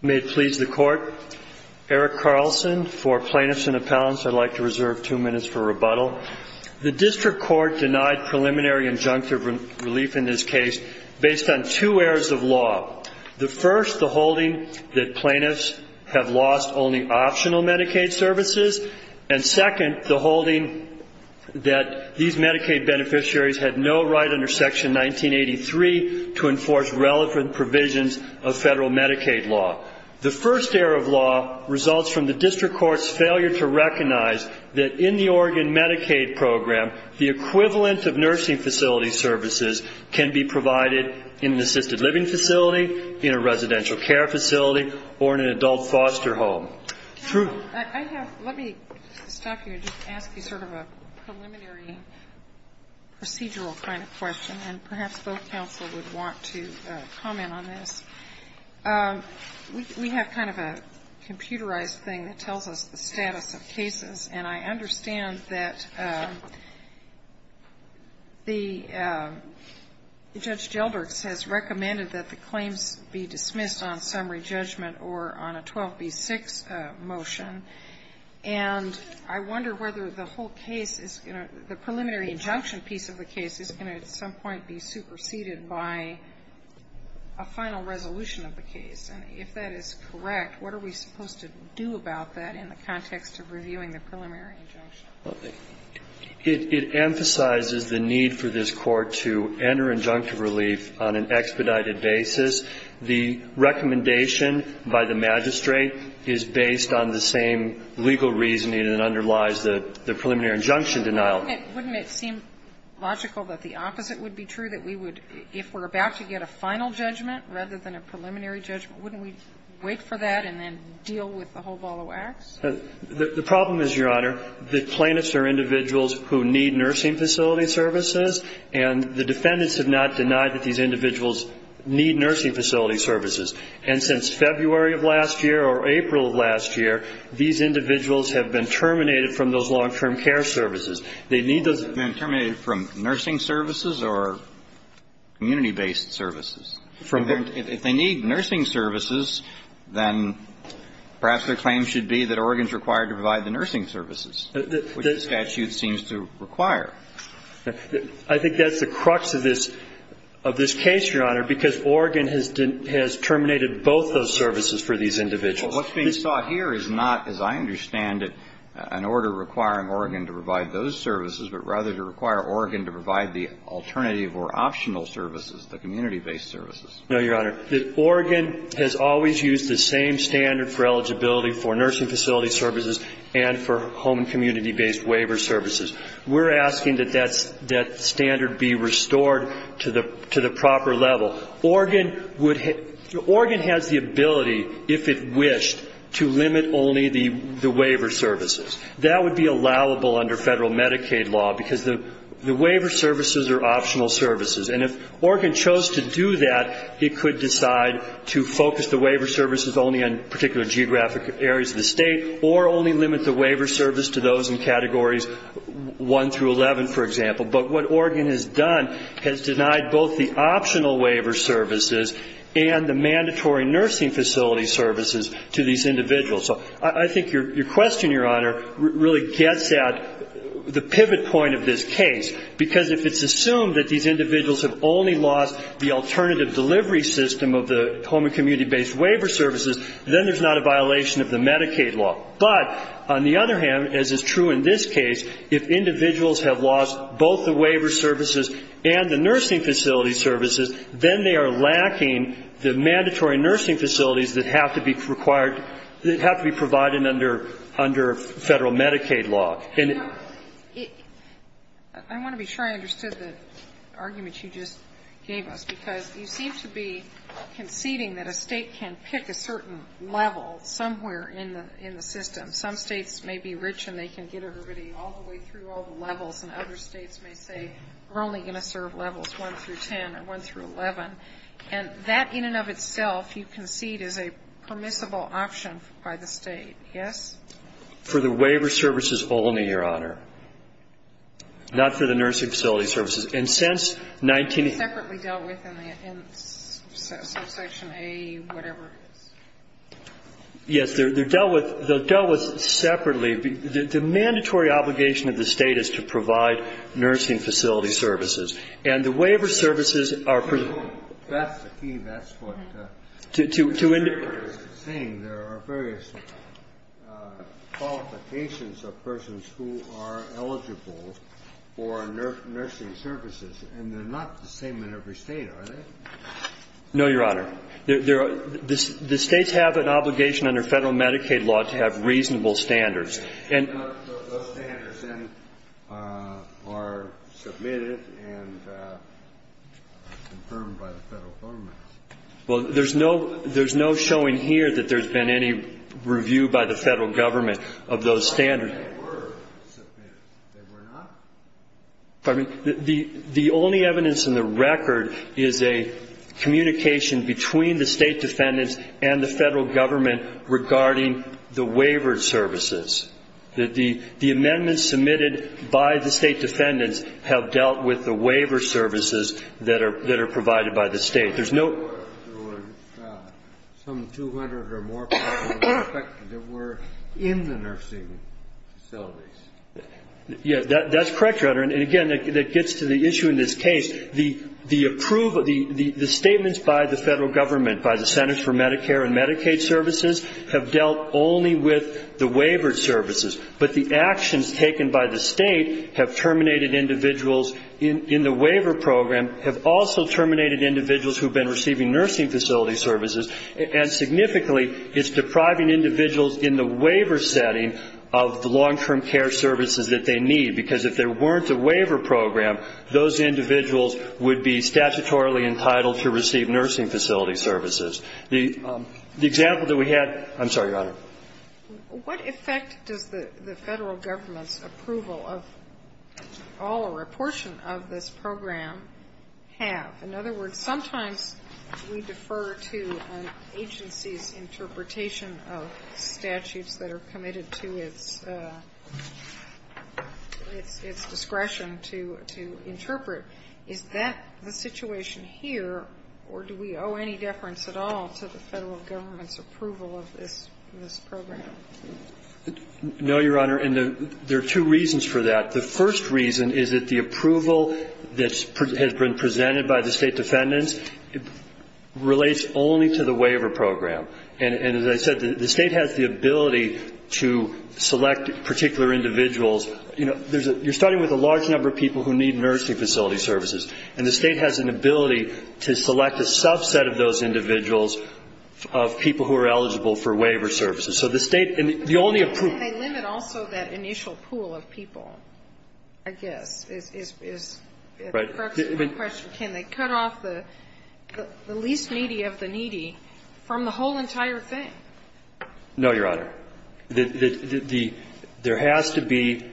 May it please the court. Eric Carlson for plaintiffs and appellants. I'd like to reserve two minutes for rebuttal. The district court denied preliminary injunctive relief in this case based on two areas of law. The first, the holding that plaintiffs have lost only optional Medicaid services. And second, the holding that these Medicaid beneficiaries had no right under Section 1983 to enforce relevant provisions of federal Medicaid law. The first area of law results from the district court's failure to recognize that in the Oregon Medicaid program, the equivalent of nursing facility services can be provided in an assisted living facility, in a residential care facility, or in an adult foster home. Sotomayor, let me stop you and just ask you sort of a preliminary procedural kind of question, and perhaps both counsel would want to comment on this. We have kind of a computerized thing that tells us the status of cases, and I understand that the Judge Gelderts has recommended that the claims be dismissed on summary judgment or on a 12b-6 motion. And I wonder whether the whole case is going to the preliminary injunction piece of the case is going to at some point be superseded by a final resolution of the case. And if that is correct, what are we supposed to do about that in the context of reviewing the preliminary injunction? It emphasizes the need for this Court to enter injunctive relief on an expedited basis. The recommendation by the magistrate is based on the same legal reasoning that underlies the preliminary injunction denial. Wouldn't it seem logical that the opposite would be true, that we would, if we're about to get a final judgment rather than a preliminary judgment, wouldn't we wait for that and then deal with the whole ball of wax? The problem is, Your Honor, the plaintiffs are individuals who need nursing facility services, and the defendants have not denied that these individuals need nursing facility services. And since February of last year or April of last year, these individuals have been terminated from those long-term care services. They need those. They've been terminated from nursing services or community-based services? If they need nursing services, then perhaps their claim should be that Oregon is required to provide the nursing services, which the statute seems to require. I think that's the crux of this case, Your Honor, because Oregon has terminated both those services for these individuals. Well, what's being sought here is not, as I understand it, an order requiring Oregon to provide those services, but rather to require Oregon to provide the alternative or optional services, the community-based services. No, Your Honor. Oregon has always used the same standard for eligibility for nursing facility services and for home and community-based waiver services. We're asking that that standard be restored to the proper level. Oregon has the ability, if it wished, to limit only the waiver services. That would be allowable under federal Medicaid law, because the waiver services are optional services. And if Oregon chose to do that, it could decide to focus the waiver services only on particular geographic areas of the state or only limit the waiver service to those in categories 1 through 11, for example. But what Oregon has done has denied both the optional waiver services and the mandatory nursing facility services to these individuals. So I think your question, Your Honor, really gets at the pivot point of this case, because if it's assumed that these individuals have only lost the alternative delivery system of the home and community-based waiver services, then there's not a violation of the Medicaid law. But, on the other hand, as is true in this case, if individuals have lost both the waiver services and the nursing facility services, then they are lacking the mandatory nursing facilities that have to be required, that have to be provided under federal Medicaid law. And it ---- Sotomayor, I want to be sure I understood the argument you just gave us, because you seem to be conceding that a State can pick a certain level somewhere in the system. Some States may be rich and they can get everybody all the way through all the levels, and other States may say, we're only going to serve levels 1 through 10 or 1 through 11. And that, in and of itself, you concede is a permissible option by the State. Yes? For the waiver services only, Your Honor. Not for the nursing facility services. And since 19 ---- Separately dealt with in Subsection A, whatever it is. Yes. They're dealt with separately. The mandatory obligation of the State is to provide nursing facility services. And the waiver services are ---- That's the key. That's what ---- To ---- There are various qualifications of persons who are eligible for nursing services, and they're not the same in every State, are they? No, Your Honor. The States have an obligation under Federal Medicaid law to have reasonable standards. And ---- Those standards then are submitted and confirmed by the Federal government. Well, there's no showing here that there's been any review by the Federal government of those standards. They were submitted. They were not. The only evidence in the record is a communication between the State defendants and the Federal government regarding the waiver services, that the amendments submitted by the State defendants have dealt with the waiver services that are provided by the State. There's no ---- There were some 200 or more persons suspected that were in the nursing facilities. Yes, that's correct, Your Honor. And again, that gets to the issue in this case. The approval ---- The statements by the Federal government, by the Centers for Medicare and Medicaid Services, have dealt only with the waiver services. But the actions taken by the State have terminated individuals in the waiver program, have also terminated individuals who have been receiving nursing facility services, and significantly it's depriving individuals in the waiver setting of the long-term care services that they need. Because if there weren't a waiver program, those individuals would be statutorily entitled to receive nursing facility services. The example that we had ---- I'm sorry, Your Honor. What effect does the Federal government's approval of all or a portion of this program have? In other words, sometimes we defer to an agency's interpretation of statutes that are committed to its discretion to interpret. Is that the situation here, or do we owe any deference at all to the Federal government's approval of this program? No, Your Honor. And there are two reasons for that. The first reason is that the approval that has been presented by the State defendants relates only to the waiver program. And as I said, the State has the ability to select particular individuals. You know, there's a ---- you're starting with a large number of people who need nursing facility services. And the State has an ability to select a subset of those individuals of people who are eligible for waiver services. So the State ---- Can they limit also that initial pool of people, I guess, is my question. Can they cut off the least needy of the needy from the whole entire thing? No, Your Honor. The ---- there has to be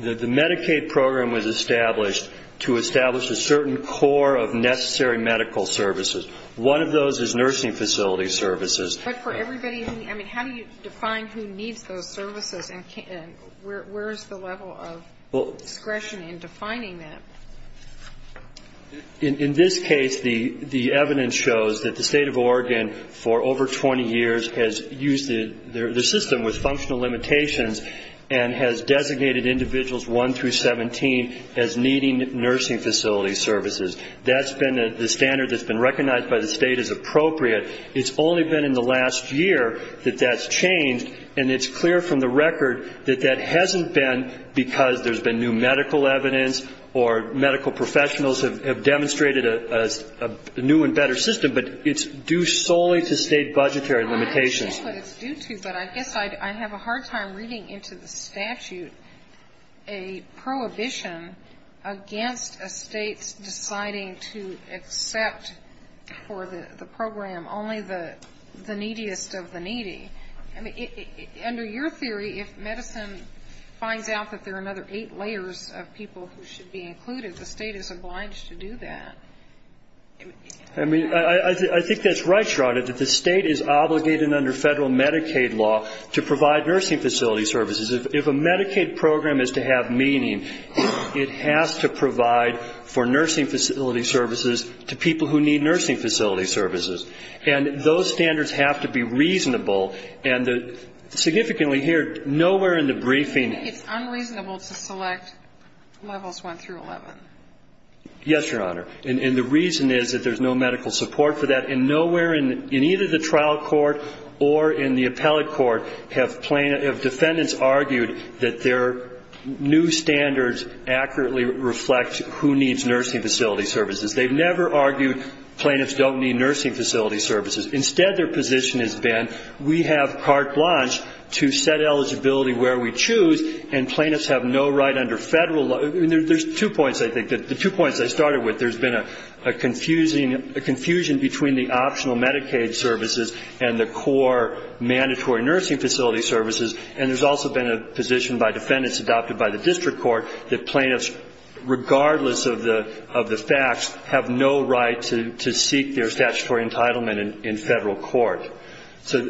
---- the Medicaid program was established to establish a certain core of necessary medical services. One of those is nursing facility services. But for everybody who ---- I mean, how do you define who needs those services and where is the level of discretion in defining that? In this case, the evidence shows that the State of Oregon, for over 20 years, has used the system with functional limitations and has designated individuals 1 through 17 as needing nursing facility services. That's been the standard that's been recognized by the State as appropriate. It's only been in the last year that that's changed. And it's clear from the record that that hasn't been because there's been new medical evidence or medical professionals have demonstrated a new and better system, but it's due solely to State budgetary limitations. I understand what it's due to, but I guess I have a hard time reading into the statute a prohibition against a State's deciding to accept for the program only the neediest of the needy. Under your theory, if medicine finds out that there are another eight layers of people who should be included, the State is obliged to do that. I mean, I think that's right, Sharada, that the State is obligated under federal Medicaid law to provide nursing facility services. If a Medicaid program is to have meaning, it has to provide for nursing facility services to people who need nursing facility services. And those standards have to be reasonable. And significantly here, nowhere in the briefing ---- I think it's unreasonable to select levels 1 through 11. Yes, Your Honor. And the reason is that there's no medical support for that. And nowhere in either the trial court or in the appellate court have defendants argued that their new standards accurately reflect who needs nursing facility services. They've never argued plaintiffs don't need nursing facility services. Instead, their position has been we have carte blanche to set eligibility where we choose, and plaintiffs have no right under federal law. There's two points, I think. The two points I started with, there's been a confusion between the optional Medicaid services and the core mandatory nursing facility services, and there's also been a position by defendants adopted by the district court that plaintiffs, regardless of the facts, have no right to seek their statutory entitlement in federal court. So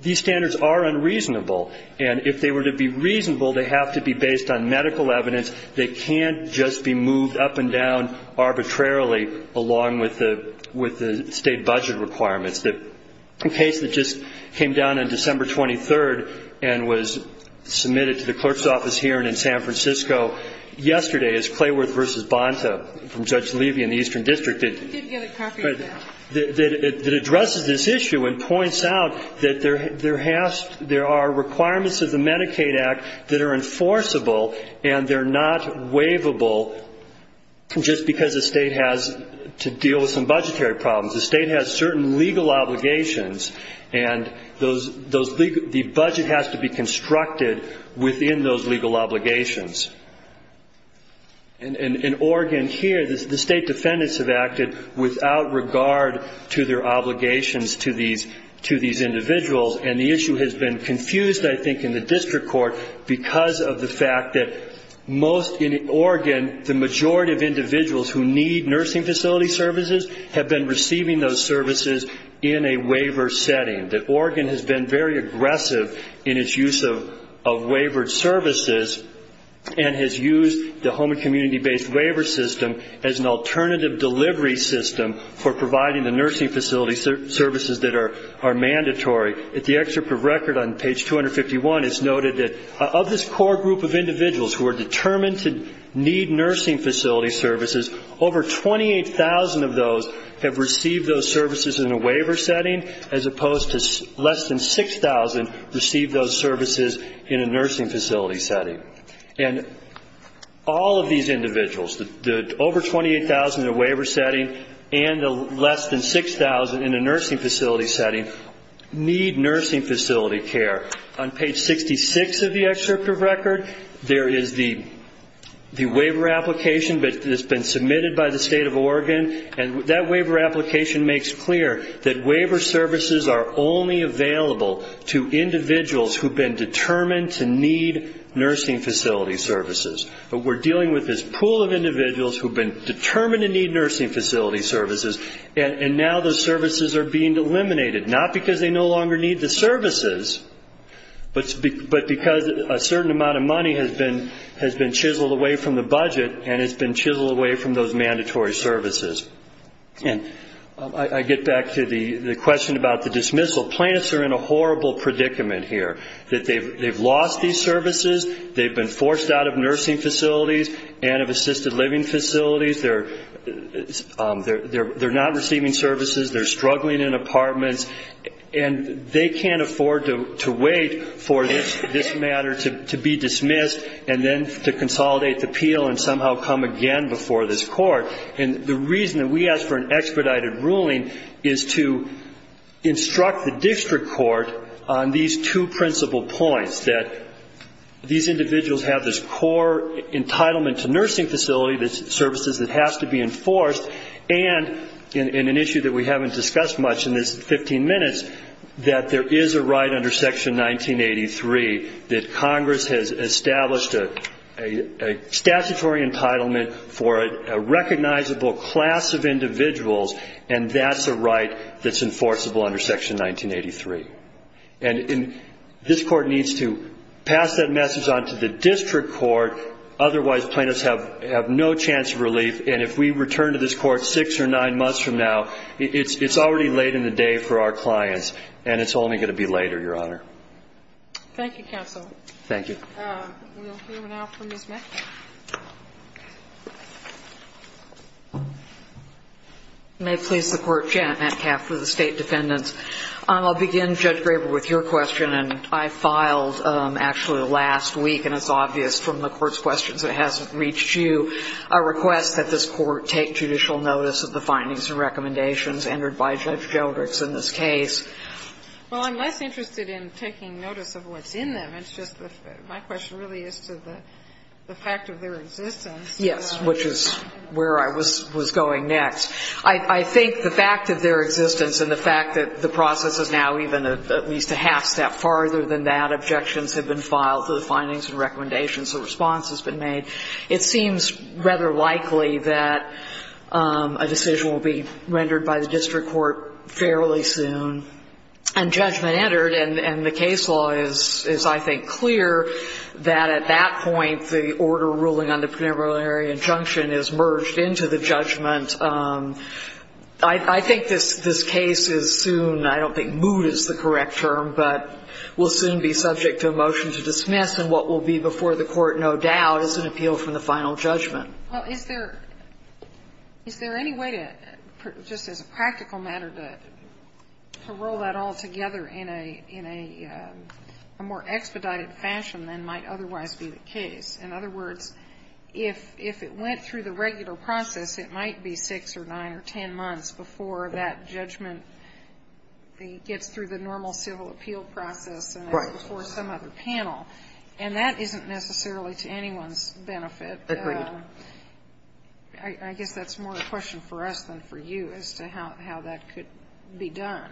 these standards are unreasonable. And if they were to be reasonable, they have to be based on medical evidence. They can't just be moved up and down arbitrarily along with the state budget requirements. The case that just came down on December 23rd and was submitted to the clerk's office hearing in San Francisco yesterday is Clayworth v. Bonta from Judge Levy in the Eastern District that addresses this issue and points out that there are requirements of the Medicaid Act that are enforceable, and they're not waivable just because the state has to deal with some budgetary problems. The state has certain legal obligations, and the budget has to be constructed within those legal obligations. In Oregon here, the state defendants have acted without regard to their obligations to these individuals, and the issue has been confused, I think, in the district court because of the fact that most in Oregon, the majority of individuals who need nursing facility services have been receiving those services in a waiver setting. Oregon has been very aggressive in its use of waivered services and has used the home and community-based waiver system as an alternative delivery system for providing the nursing facility services that are mandatory. At the excerpt of record on page 251, it's noted that of this core group of individuals who are determined to need nursing facility services, over 28,000 of those have received those services in a waiver setting, as opposed to less than 6,000 received those services in a nursing facility setting. And all of these individuals, the over 28,000 in a waiver setting and the less than 6,000 in a nursing facility setting, need nursing facility care. On page 66 of the excerpt of record, there is the waiver application that has been submitted by the state of Oregon, and that waiver application makes clear that waiver services are only available to individuals who have been determined to need nursing facility services. But we're dealing with this pool of individuals who have been determined to need nursing facility services, and now those services are being eliminated, not because they no longer need the services, but because a certain amount of money has been chiseled away from the budget and has been chiseled away from those mandatory services. And I get back to the question about the dismissal. Plaintiffs are in a horrible predicament here, that they've lost these services, they've been forced out of nursing facilities and of assisted living facilities, they're not receiving services, they're struggling in apartments, and they can't afford to wait for this matter to be dismissed and then to consolidate the appeal and somehow come again before this court. And the reason that we ask for an expedited ruling is to instruct the district court on these two principal points, that these individuals have this core entitlement to nursing facility services that has to be enforced, and in an issue that we haven't discussed much in this 15 minutes, that there is a right under Section 1983 that Congress has established a statutory entitlement for a recognizable class of individuals, and that's a right that's enforceable under Section 1983. And this court needs to pass that message on to the district court, otherwise plaintiffs have no chance of relief, and if we return to this court six or nine months from now, it's already late in the day for our clients, and it's only going to be later, Your Honor. Thank you, counsel. Thank you. We'll hear now from Ms. Metcalf. May it please the Court, Janet Metcalf for the State Defendants. I'll begin, Judge Graber, with your question. And I filed actually last week, and it's obvious from the Court's questions, it hasn't reached you, a request that this Court take judicial notice of the findings and recommendations entered by Judge Jodricks in this case. Well, I'm less interested in taking notice of what's in them. It's just that my question really is to the fact of their existence. Yes, which is where I was going next. I think the fact of their existence and the fact that the process is now even at least a half-step farther than that, objections have been filed to the findings and recommendations, a response has been made. It seems rather likely that a decision will be rendered by the district court fairly soon and judgment entered, and the case law is, I think, clear that at that point, the order ruling on the preliminary injunction is merged into the judgment. I think this case is soon, I don't think moot is the correct term, but will soon be subject to a motion to dismiss, and what will be before the Court, no doubt, is an appeal from the final judgment. Well, is there any way to, just as a practical matter, to roll that all together in a more expedited fashion than might otherwise be the case? In other words, if it went through the regular process, it might be 6 or 9 or 10 months before that judgment gets through the normal civil appeal process and is before some other panel. And that isn't necessarily to anyone's benefit. Agreed. I guess that's more a question for us than for you as to how that could be done.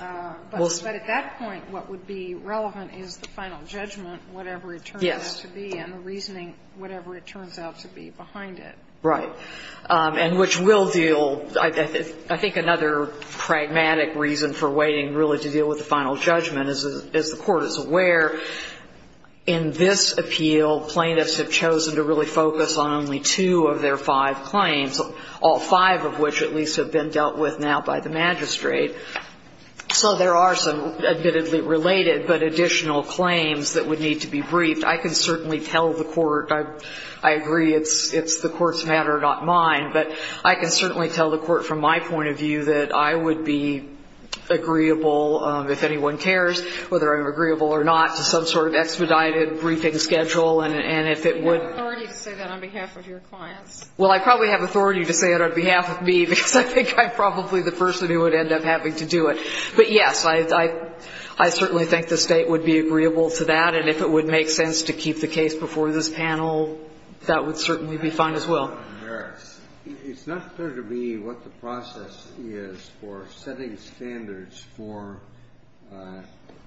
But at that point, what would be relevant is the final judgment, whatever it turns out to be, and the reasoning, whatever it turns out to be behind it. Right. And which will deal, I think, another pragmatic reason for waiting, really, to deal with the final judgment is, as the Court is aware, in this appeal, plaintiffs have chosen to really focus on only two of their five claims, all five of which at least have been dealt with now by the magistrate. So there are some, admittedly related, but additional claims that would need to be briefed. I can certainly tell the Court. I agree it's the Court's matter, not mine. But I can certainly tell the Court from my point of view that I would be agreeable if anyone cares, whether I'm agreeable or not, to some sort of expedited briefing schedule, and if it would be. You have authority to say that on behalf of your clients. Well, I probably have authority to say it on behalf of me, because I think I'm probably the person who would end up having to do it. But, yes, I certainly think the State would be agreeable to that, and if it would make sense to keep the case before this panel, that would certainly be fine as well. It's not clear to me what the process is for setting standards for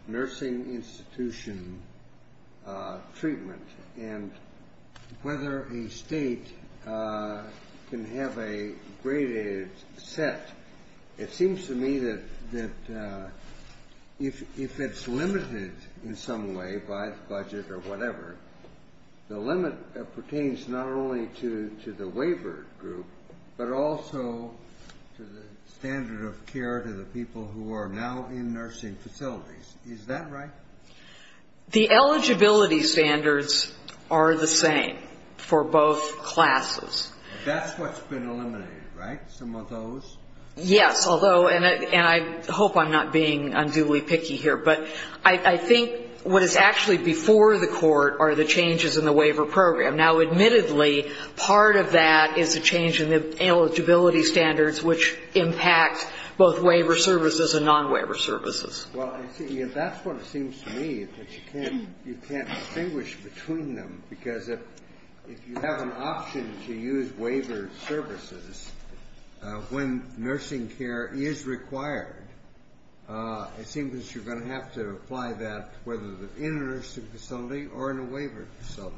nursing institution treatment, and whether a State can have a graded set. It seems to me that if it's limited in some way by the budget or whatever, the limit pertains not only to the waiver group, but also to the standard of care to the people who are now in nursing facilities. Is that right? The eligibility standards are the same for both classes. That's what's been eliminated, right? Some of those? Yes. Although, and I hope I'm not being unduly picky here, but I think what is actually before the Court are the changes in the waiver program. Now, admittedly, part of that is a change in the eligibility standards, which impact both waiver services and non-waiver services. Well, that's what it seems to me, that you can't distinguish between them, because if you have an option to use waiver services when nursing care is required, it seems that you're going to have to apply that whether in a nursing facility or in a waiver facility.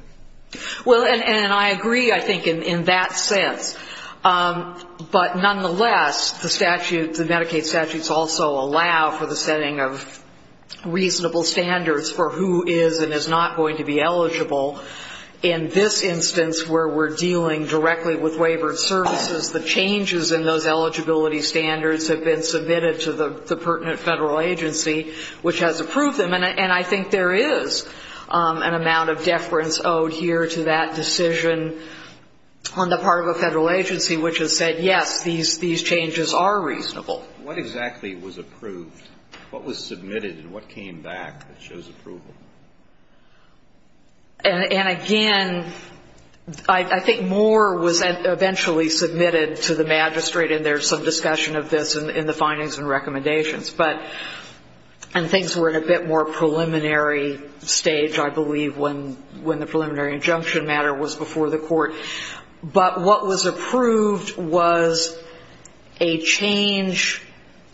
Well, and I agree, I think, in that sense. But nonetheless, the Medicaid statutes also allow for the setting of reasonable standards for who is and is not going to be eligible. In this instance, where we're dealing directly with waiver services, the changes in those eligibility standards have been submitted to the pertinent federal agency, which has approved them. And I think there is an amount of deference owed here to that decision on the part of a federal agency, which has said, yes, these changes are reasonable. What exactly was approved? What was submitted, and what came back that shows approval? And again, I think more was eventually submitted to the magistrate, and there's some discussion of this in the findings and recommendations. And things were at a bit more preliminary stage, I believe, when the preliminary injunction matter was before the Court. But what was approved was a change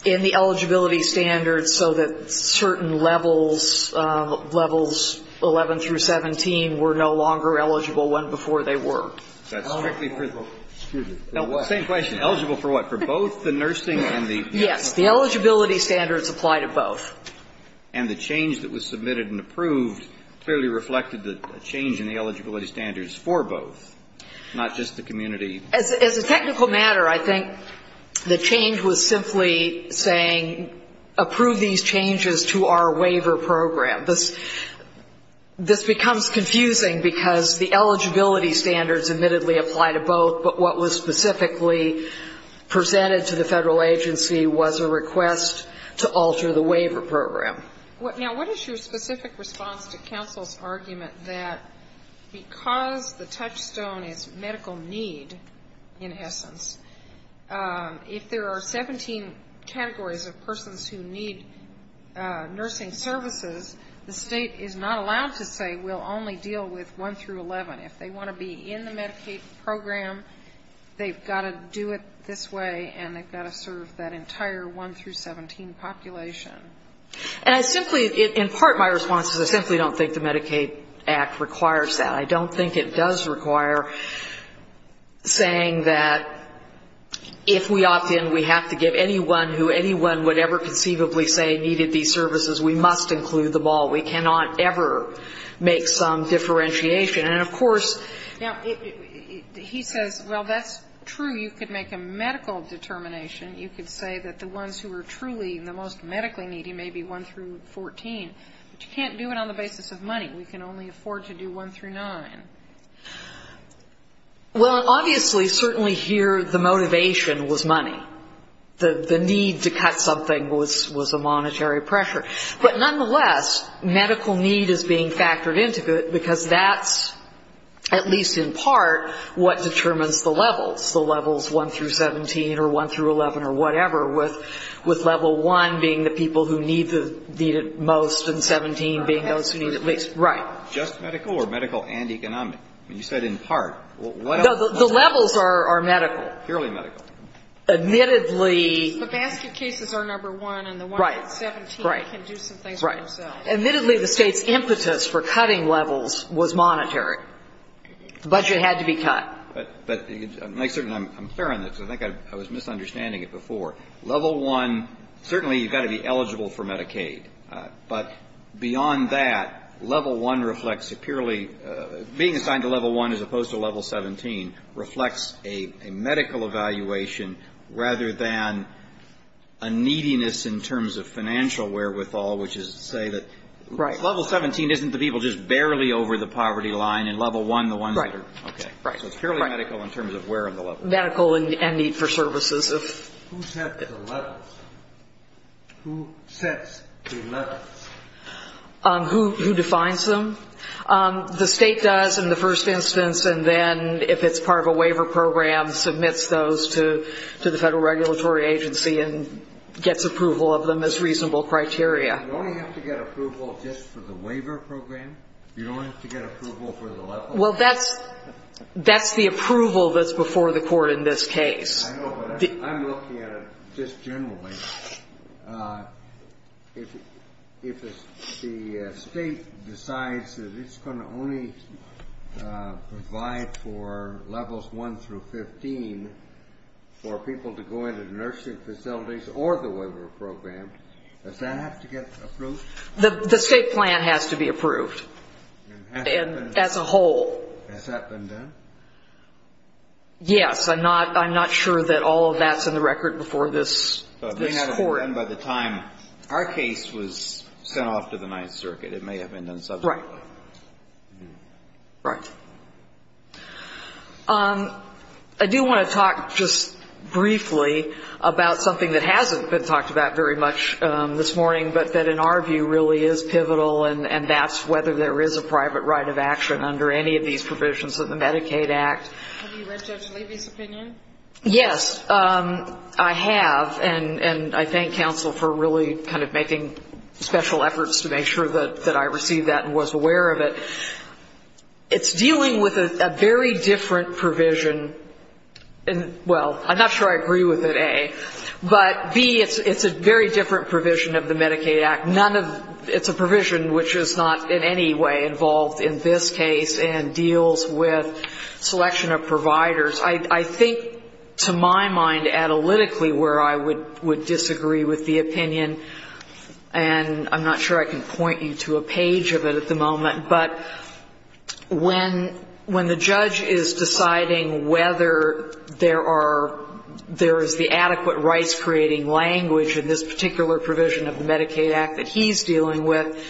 in the eligibility standards so that certain levels, levels 11 through 17, were no longer eligible when before they were. That's strictly for the what? Same question. Eligible for what? For both the nursing and the? Yes. The eligibility standards apply to both. And the change that was submitted and approved clearly reflected the change in the Not just the community. As a technical matter, I think the change was simply saying approve these changes to our waiver program. This becomes confusing because the eligibility standards admittedly apply to both, but what was specifically presented to the federal agency was a request to alter the waiver program. Now, what is your specific response to counsel's argument that because the touchstone is medical need, in essence, if there are 17 categories of persons who need nursing services, the State is not allowed to say we'll only deal with 1 through 11. If they want to be in the Medicaid program, they've got to do it this way, and they've got to serve that entire 1 through 17 population. And I simply, in part my response is I simply don't think the Medicaid Act requires that. I don't think it does require saying that if we opt in, we have to give anyone who anyone would ever conceivably say needed these services, we must include them all. We cannot ever make some differentiation. And, of course, now, he says, well, that's true. You could make a medical determination. You could say that the ones who are truly the most medically needy may be 1 through 14. But you can't do it on the basis of money. We can only afford to do 1 through 9. Well, obviously, certainly here the motivation was money. The need to cut something was a monetary pressure. But, nonetheless, medical need is being factored into it because that's, at least in part, what determines the levels, the levels 1 through 17 or 1 through 11 or whatever, with level 1 being the people who need it most and 17 being those who need it least. Right. Just medical or medical and economic? You said in part. No. The levels are medical. Purely medical. Admittedly. The basket cases are number one and the ones at 17 can do some things for themselves. Right. Admittedly, the State's impetus for cutting levels was monetary. The budget had to be cut. But make certain I'm clear on this. I think I was misunderstanding it before. Level 1, certainly you've got to be eligible for Medicaid. But beyond that, level 1 reflects a purely being assigned to level 1 as opposed to level 17 reflects a medical evaluation rather than a neediness in terms of financial wherewithal, which is to say that level 17 isn't the people just barely over the poverty line and level 1 the ones that are. Right. Okay. Right. So it's purely medical in terms of where on the level. Medical and need for services. Who sets the levels? Who sets the levels? Who defines them? The State does in the first instance and then if it's part of a waiver program submits those to the Federal Regulatory Agency and gets approval of them as reasonable criteria. You only have to get approval just for the waiver program? You don't have to get approval for the levels? Well, that's the approval that's before the court in this case. I know, but I'm looking at it just generally. If the State decides that it's going to only provide for levels 1 through 15 for people to go into the nursing facilities or the waiver program, does that have to get approved? The State plan has to be approved as a whole. Has that been done? Yes. I'm not sure that all of that's in the record before this court. By the time our case was sent off to the Ninth Circuit, it may have been done subsequently. Right. Right. I do want to talk just briefly about something that hasn't been talked about very much this morning, but that in our view really is pivotal and that's whether there is a private right of action under any of these provisions of the Medicaid Act. Have you read Judge Levy's opinion? Yes, I have, and I thank counsel for really kind of making special efforts to make sure that I received that and was aware of it. It's dealing with a very different provision. Well, I'm not sure I agree with it, A. But, B, it's a very different provision of the Medicaid Act. It's a provision which is not in any way involved in this case and deals with selection of providers. I think to my mind analytically where I would disagree with the opinion, and I'm not sure I can point you to a page of it at the moment, but when the judge is deciding whether there are the adequate rights-creating language in this particular provision of the Medicaid Act that he's dealing with,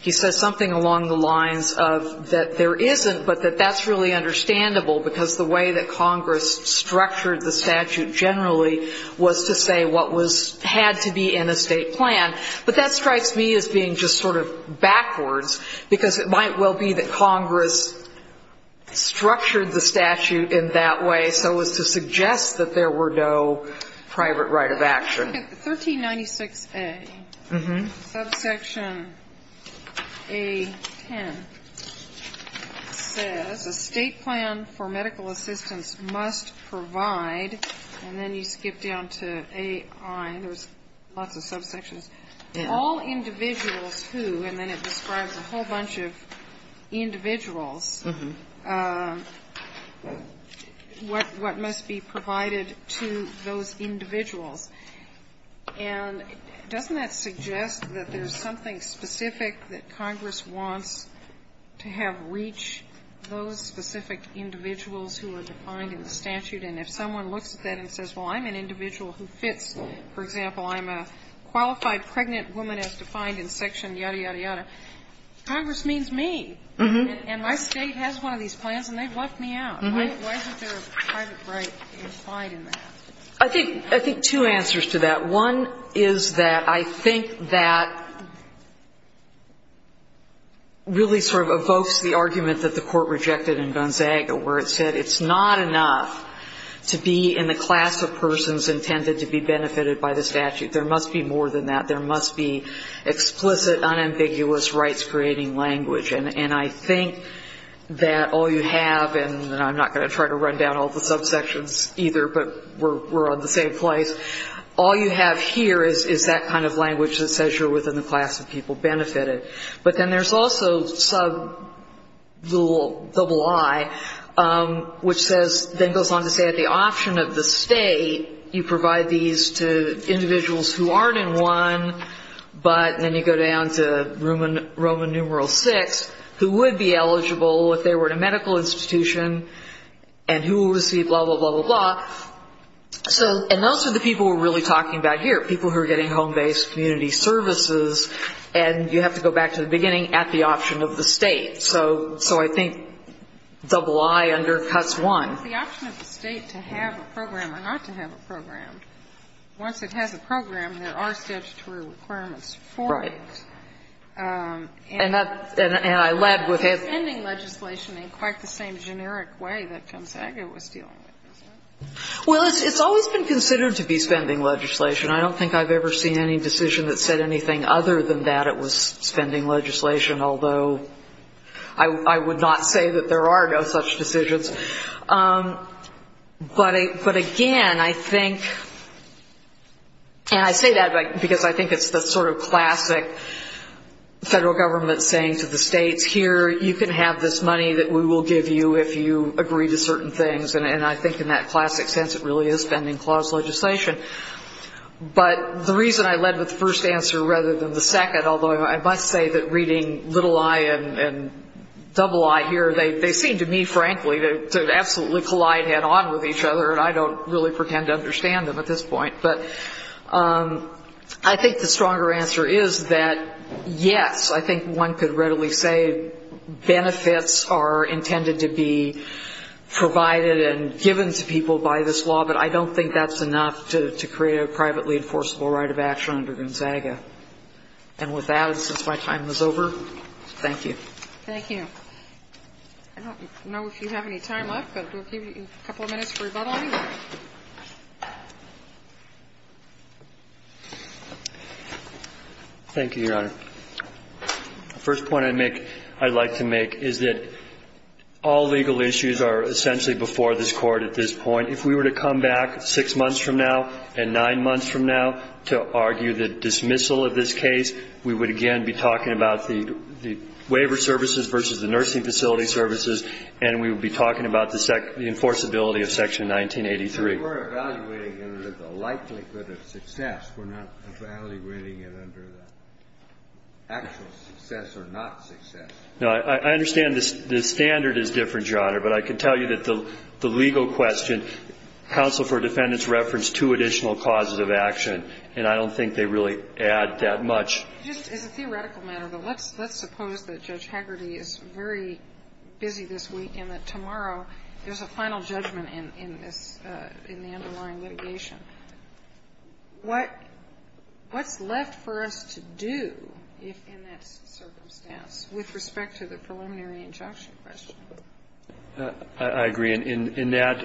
he says something along the lines of that there isn't, but that that's really understandable because the way that Congress structured the statute generally was to say what had to be in a state plan. But that strikes me as being just sort of backwards because it might well be that Congress structured the statute in that way so as to suggest that there were no private right of action. 1396A, subsection A10, says a state plan for medical assistance must provide and then you skip down to AI, there's lots of subsections, all individuals who, and then it describes a whole bunch of individuals, what must be provided to those individuals. And doesn't that suggest that there's something specific that Congress wants to have reach those specific individuals who are defined in the statute? And if someone looks at that and says, well, I'm an individual who fits, for example, I'm a qualified pregnant woman as defined in section yada, yada, yada, Congress means me. And my State has one of these plans and they've left me out. Why isn't there a private right implied in that? I think two answers to that. One is that I think that really sort of evokes the argument that the Court rejected in Gonzaga where it said it's not enough to be in the class of persons intended to be benefited by the statute. There must be more than that. There must be explicit, unambiguous, rights-creating language. And I think that all you have, and I'm not going to try to run down all the subsections either, but we're on the same place. All you have here is that kind of language that says you're within the class of people benefited. But then there's also sub double I, which says, then goes on to say at the option of the State, you provide these to individuals who aren't in one, but then you go down to Roman numeral six, who would be eligible if they were in a medical institution and who will receive blah, blah, blah, blah, blah. So and those are the people we're really talking about here, people who are getting home-based community services. And you have to go back to the beginning at the option of the State. So I think double I undercuts one. The option of the State to have a program or not to have a program, once it has a program, there are statutory requirements for it. And I led with it. It's not spending legislation in quite the same generic way that Gonzaga was dealing with, is it? Well, it's always been considered to be spending legislation. I don't think I've ever seen any decision that said anything other than that it was spending legislation, although I would not say that there are no such decisions. But again, I think, and I say that because I think it's the sort of classic federal government saying to the states, here, you can have this money that we will give you if you agree to certain things. And I think in that classic sense, it really is spending clause legislation. But the reason I led with the first answer rather than the second, although I must say that reading little I and double I here, they seem to me, frankly, to absolutely collide head-on with each other, and I don't really pretend to understand them at this point. But I think the stronger answer is that, yes, I think one could readily say benefits are intended to be provided and given to people by this law, but I don't think that's enough to create a privately enforceable right of action under Gonzaga. And with that, since my time is over, thank you. Thank you. I don't know if you have any time left, but we'll give you a couple of minutes for rebuttal. Thank you, Your Honor. The first point I'd like to make is that all legal issues are essentially before this Court at this point. If we were to come back six months from now and nine months from now to argue the dismissal of this case, we would again be talking about the waiver services versus the nursing facility services, and we would be talking about the enforceability of Section 1983. We're evaluating it under the likelihood of success. We're not evaluating it under the actual success or not success. No. I understand the standard is different, Your Honor, but I can tell you that the legal question, counsel for defendants referenced two additional causes of action, and I don't think they really add that much. It's a theoretical matter, but let's suppose that Judge Hagerty is very busy this week and that tomorrow there's a final judgment in this, in the underlying litigation. What's left for us to do in that circumstance with respect to the preliminary injunction question? I agree. In that,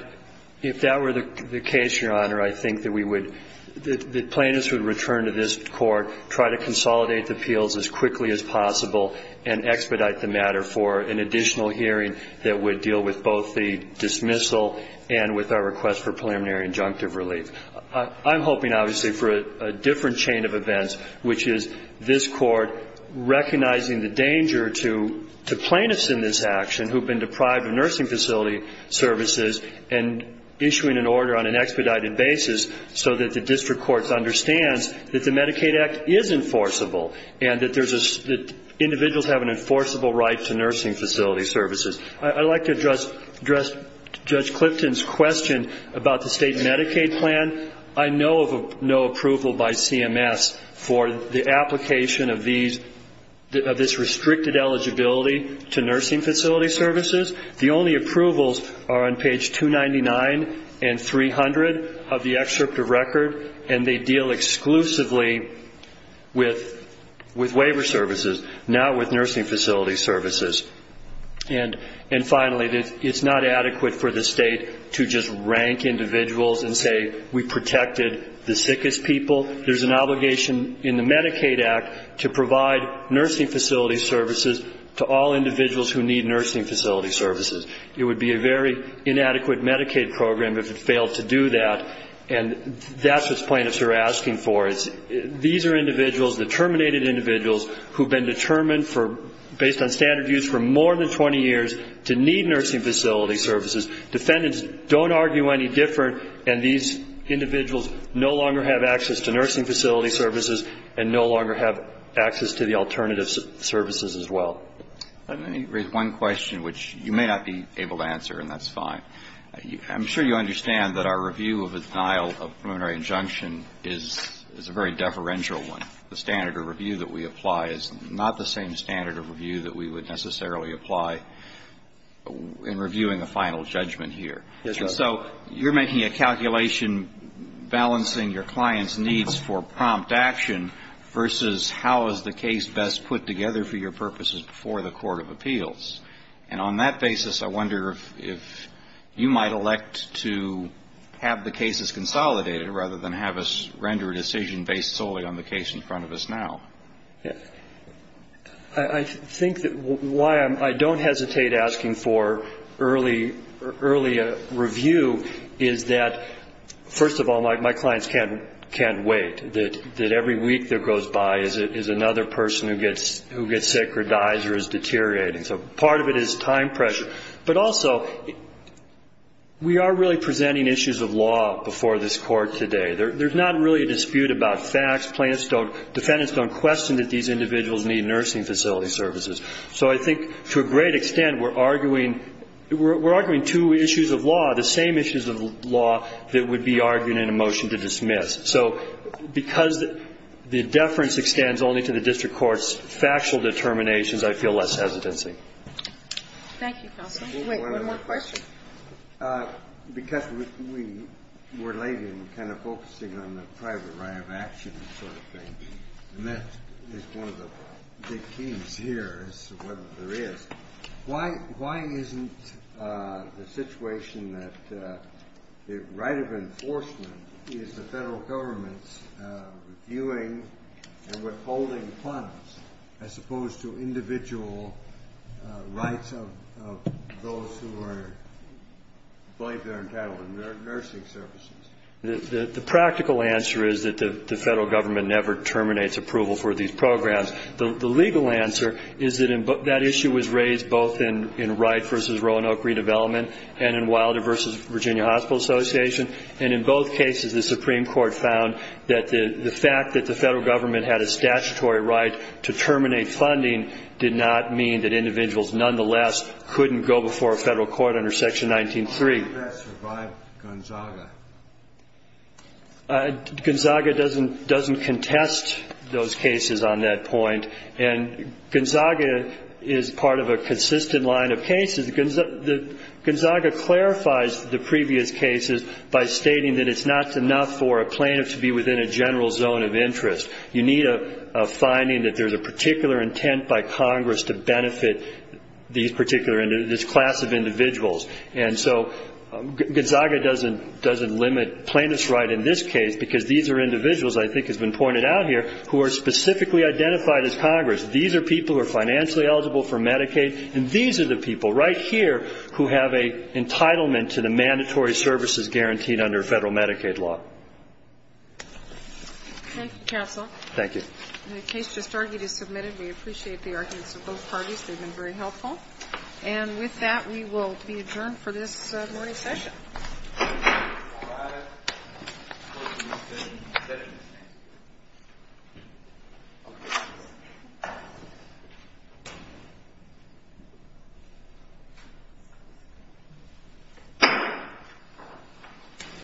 if that were the case, Your Honor, I think that we would, that plaintiffs would return to this Court, try to consolidate the appeals as quickly as possible and expedite the matter for an additional hearing that would deal with both the dismissal and with our request for preliminary injunctive relief. I'm hoping, obviously, for a different chain of events, which is this Court recognizing the danger to plaintiffs in this action who have been deprived of nursing facility services and issuing an order on an expedited basis so that the District Courts understands that the Medicaid Act is enforceable and that individuals have an enforceable right to nursing facility services. I'd like to address Judge Clipton's question about the state Medicaid plan. I know of no approval by CMS for the application of these, of this restricted eligibility to nursing facility services. The only approvals are on page 299 and 300 of the excerpt of record, and they deal exclusively with waiver services, not with nursing facility services. And finally, it's not adequate for the state to just rank individuals and say, we protected the sickest people. There's an obligation in the Medicaid Act to provide nursing facility services to all individuals who need nursing facility services. It would be a very inadequate Medicaid program if it failed to do that, and that's what plaintiffs are asking for, is these are individuals, the terminated individuals, who have been determined for, based on standard views, for more than 20 years to need nursing facility services. Defendants don't argue any different, and these individuals no longer have access to nursing facility services and no longer have access to the alternative services as well. Let me raise one question, which you may not be able to answer, and that's fine. I'm sure you understand that our review of a denial of preliminary injunction is a very deferential one. The standard of review that we apply is not the same standard of review that we would necessarily apply in reviewing a final judgment here. Yes, Your Honor. So you're making a calculation balancing your client's needs for prompt action versus how is the case best put together for your purposes before the court of appeals. And on that basis, I wonder if you might elect to have the cases consolidated rather than have us render a decision based solely on the case in front of us now. Yes. I think that why I don't hesitate asking for early review is that, first of all, my clients can't wait, that every week that goes by is another person who gets sick or dies or is deteriorating. So part of it is time pressure. But also, we are really presenting issues of law before this Court today. There's not really a dispute about facts. Defendants don't question that these individuals need nursing facility services. So I think to a great extent we're arguing two issues of law, the same issues of law, that would be argued in a motion to dismiss. So because the deference extends only to the district court's factual determinations, I feel less hesitancy. Thank you, counsel. Wait, one more question. Because we're late in kind of focusing on the private right of action sort of thing, and that is one of the big themes here as to whether there is. Why isn't the situation that the right of enforcement is the federal government's reviewing and withholding funds as opposed to individual rights of those who are, I believe they're entitled to nursing services? The practical answer is that the federal government never terminates approval for these programs. The legal answer is that that issue was raised both in Wright v. Roanoke Redevelopment and in Wilder v. Virginia Hospital Association. And in both cases, the Supreme Court found that the fact that the federal government had a statutory right to terminate funding did not mean that individuals, nonetheless, couldn't go before a federal court under Section 19-3. How do you best revive Gonzaga? Gonzaga doesn't contest those cases on that point. And Gonzaga is part of a consistent line of cases. Gonzaga clarifies the previous cases by stating that it's not enough for a plaintiff to be within a general zone of interest. You need a finding that there's a particular intent by Congress to benefit this class of individuals. And so Gonzaga doesn't limit plaintiffs' right in this case because these are individuals, I think has been pointed out here, who are specifically identified as Congress. These are people who are financially eligible for Medicaid. And these are the people right here who have an entitlement to the mandatory services guaranteed under federal Medicaid law. Thank you, counsel. Thank you. The case just argued is submitted. We appreciate the arguments of both parties. They've been very helpful. And with that, we will be adjourned for this morning's session.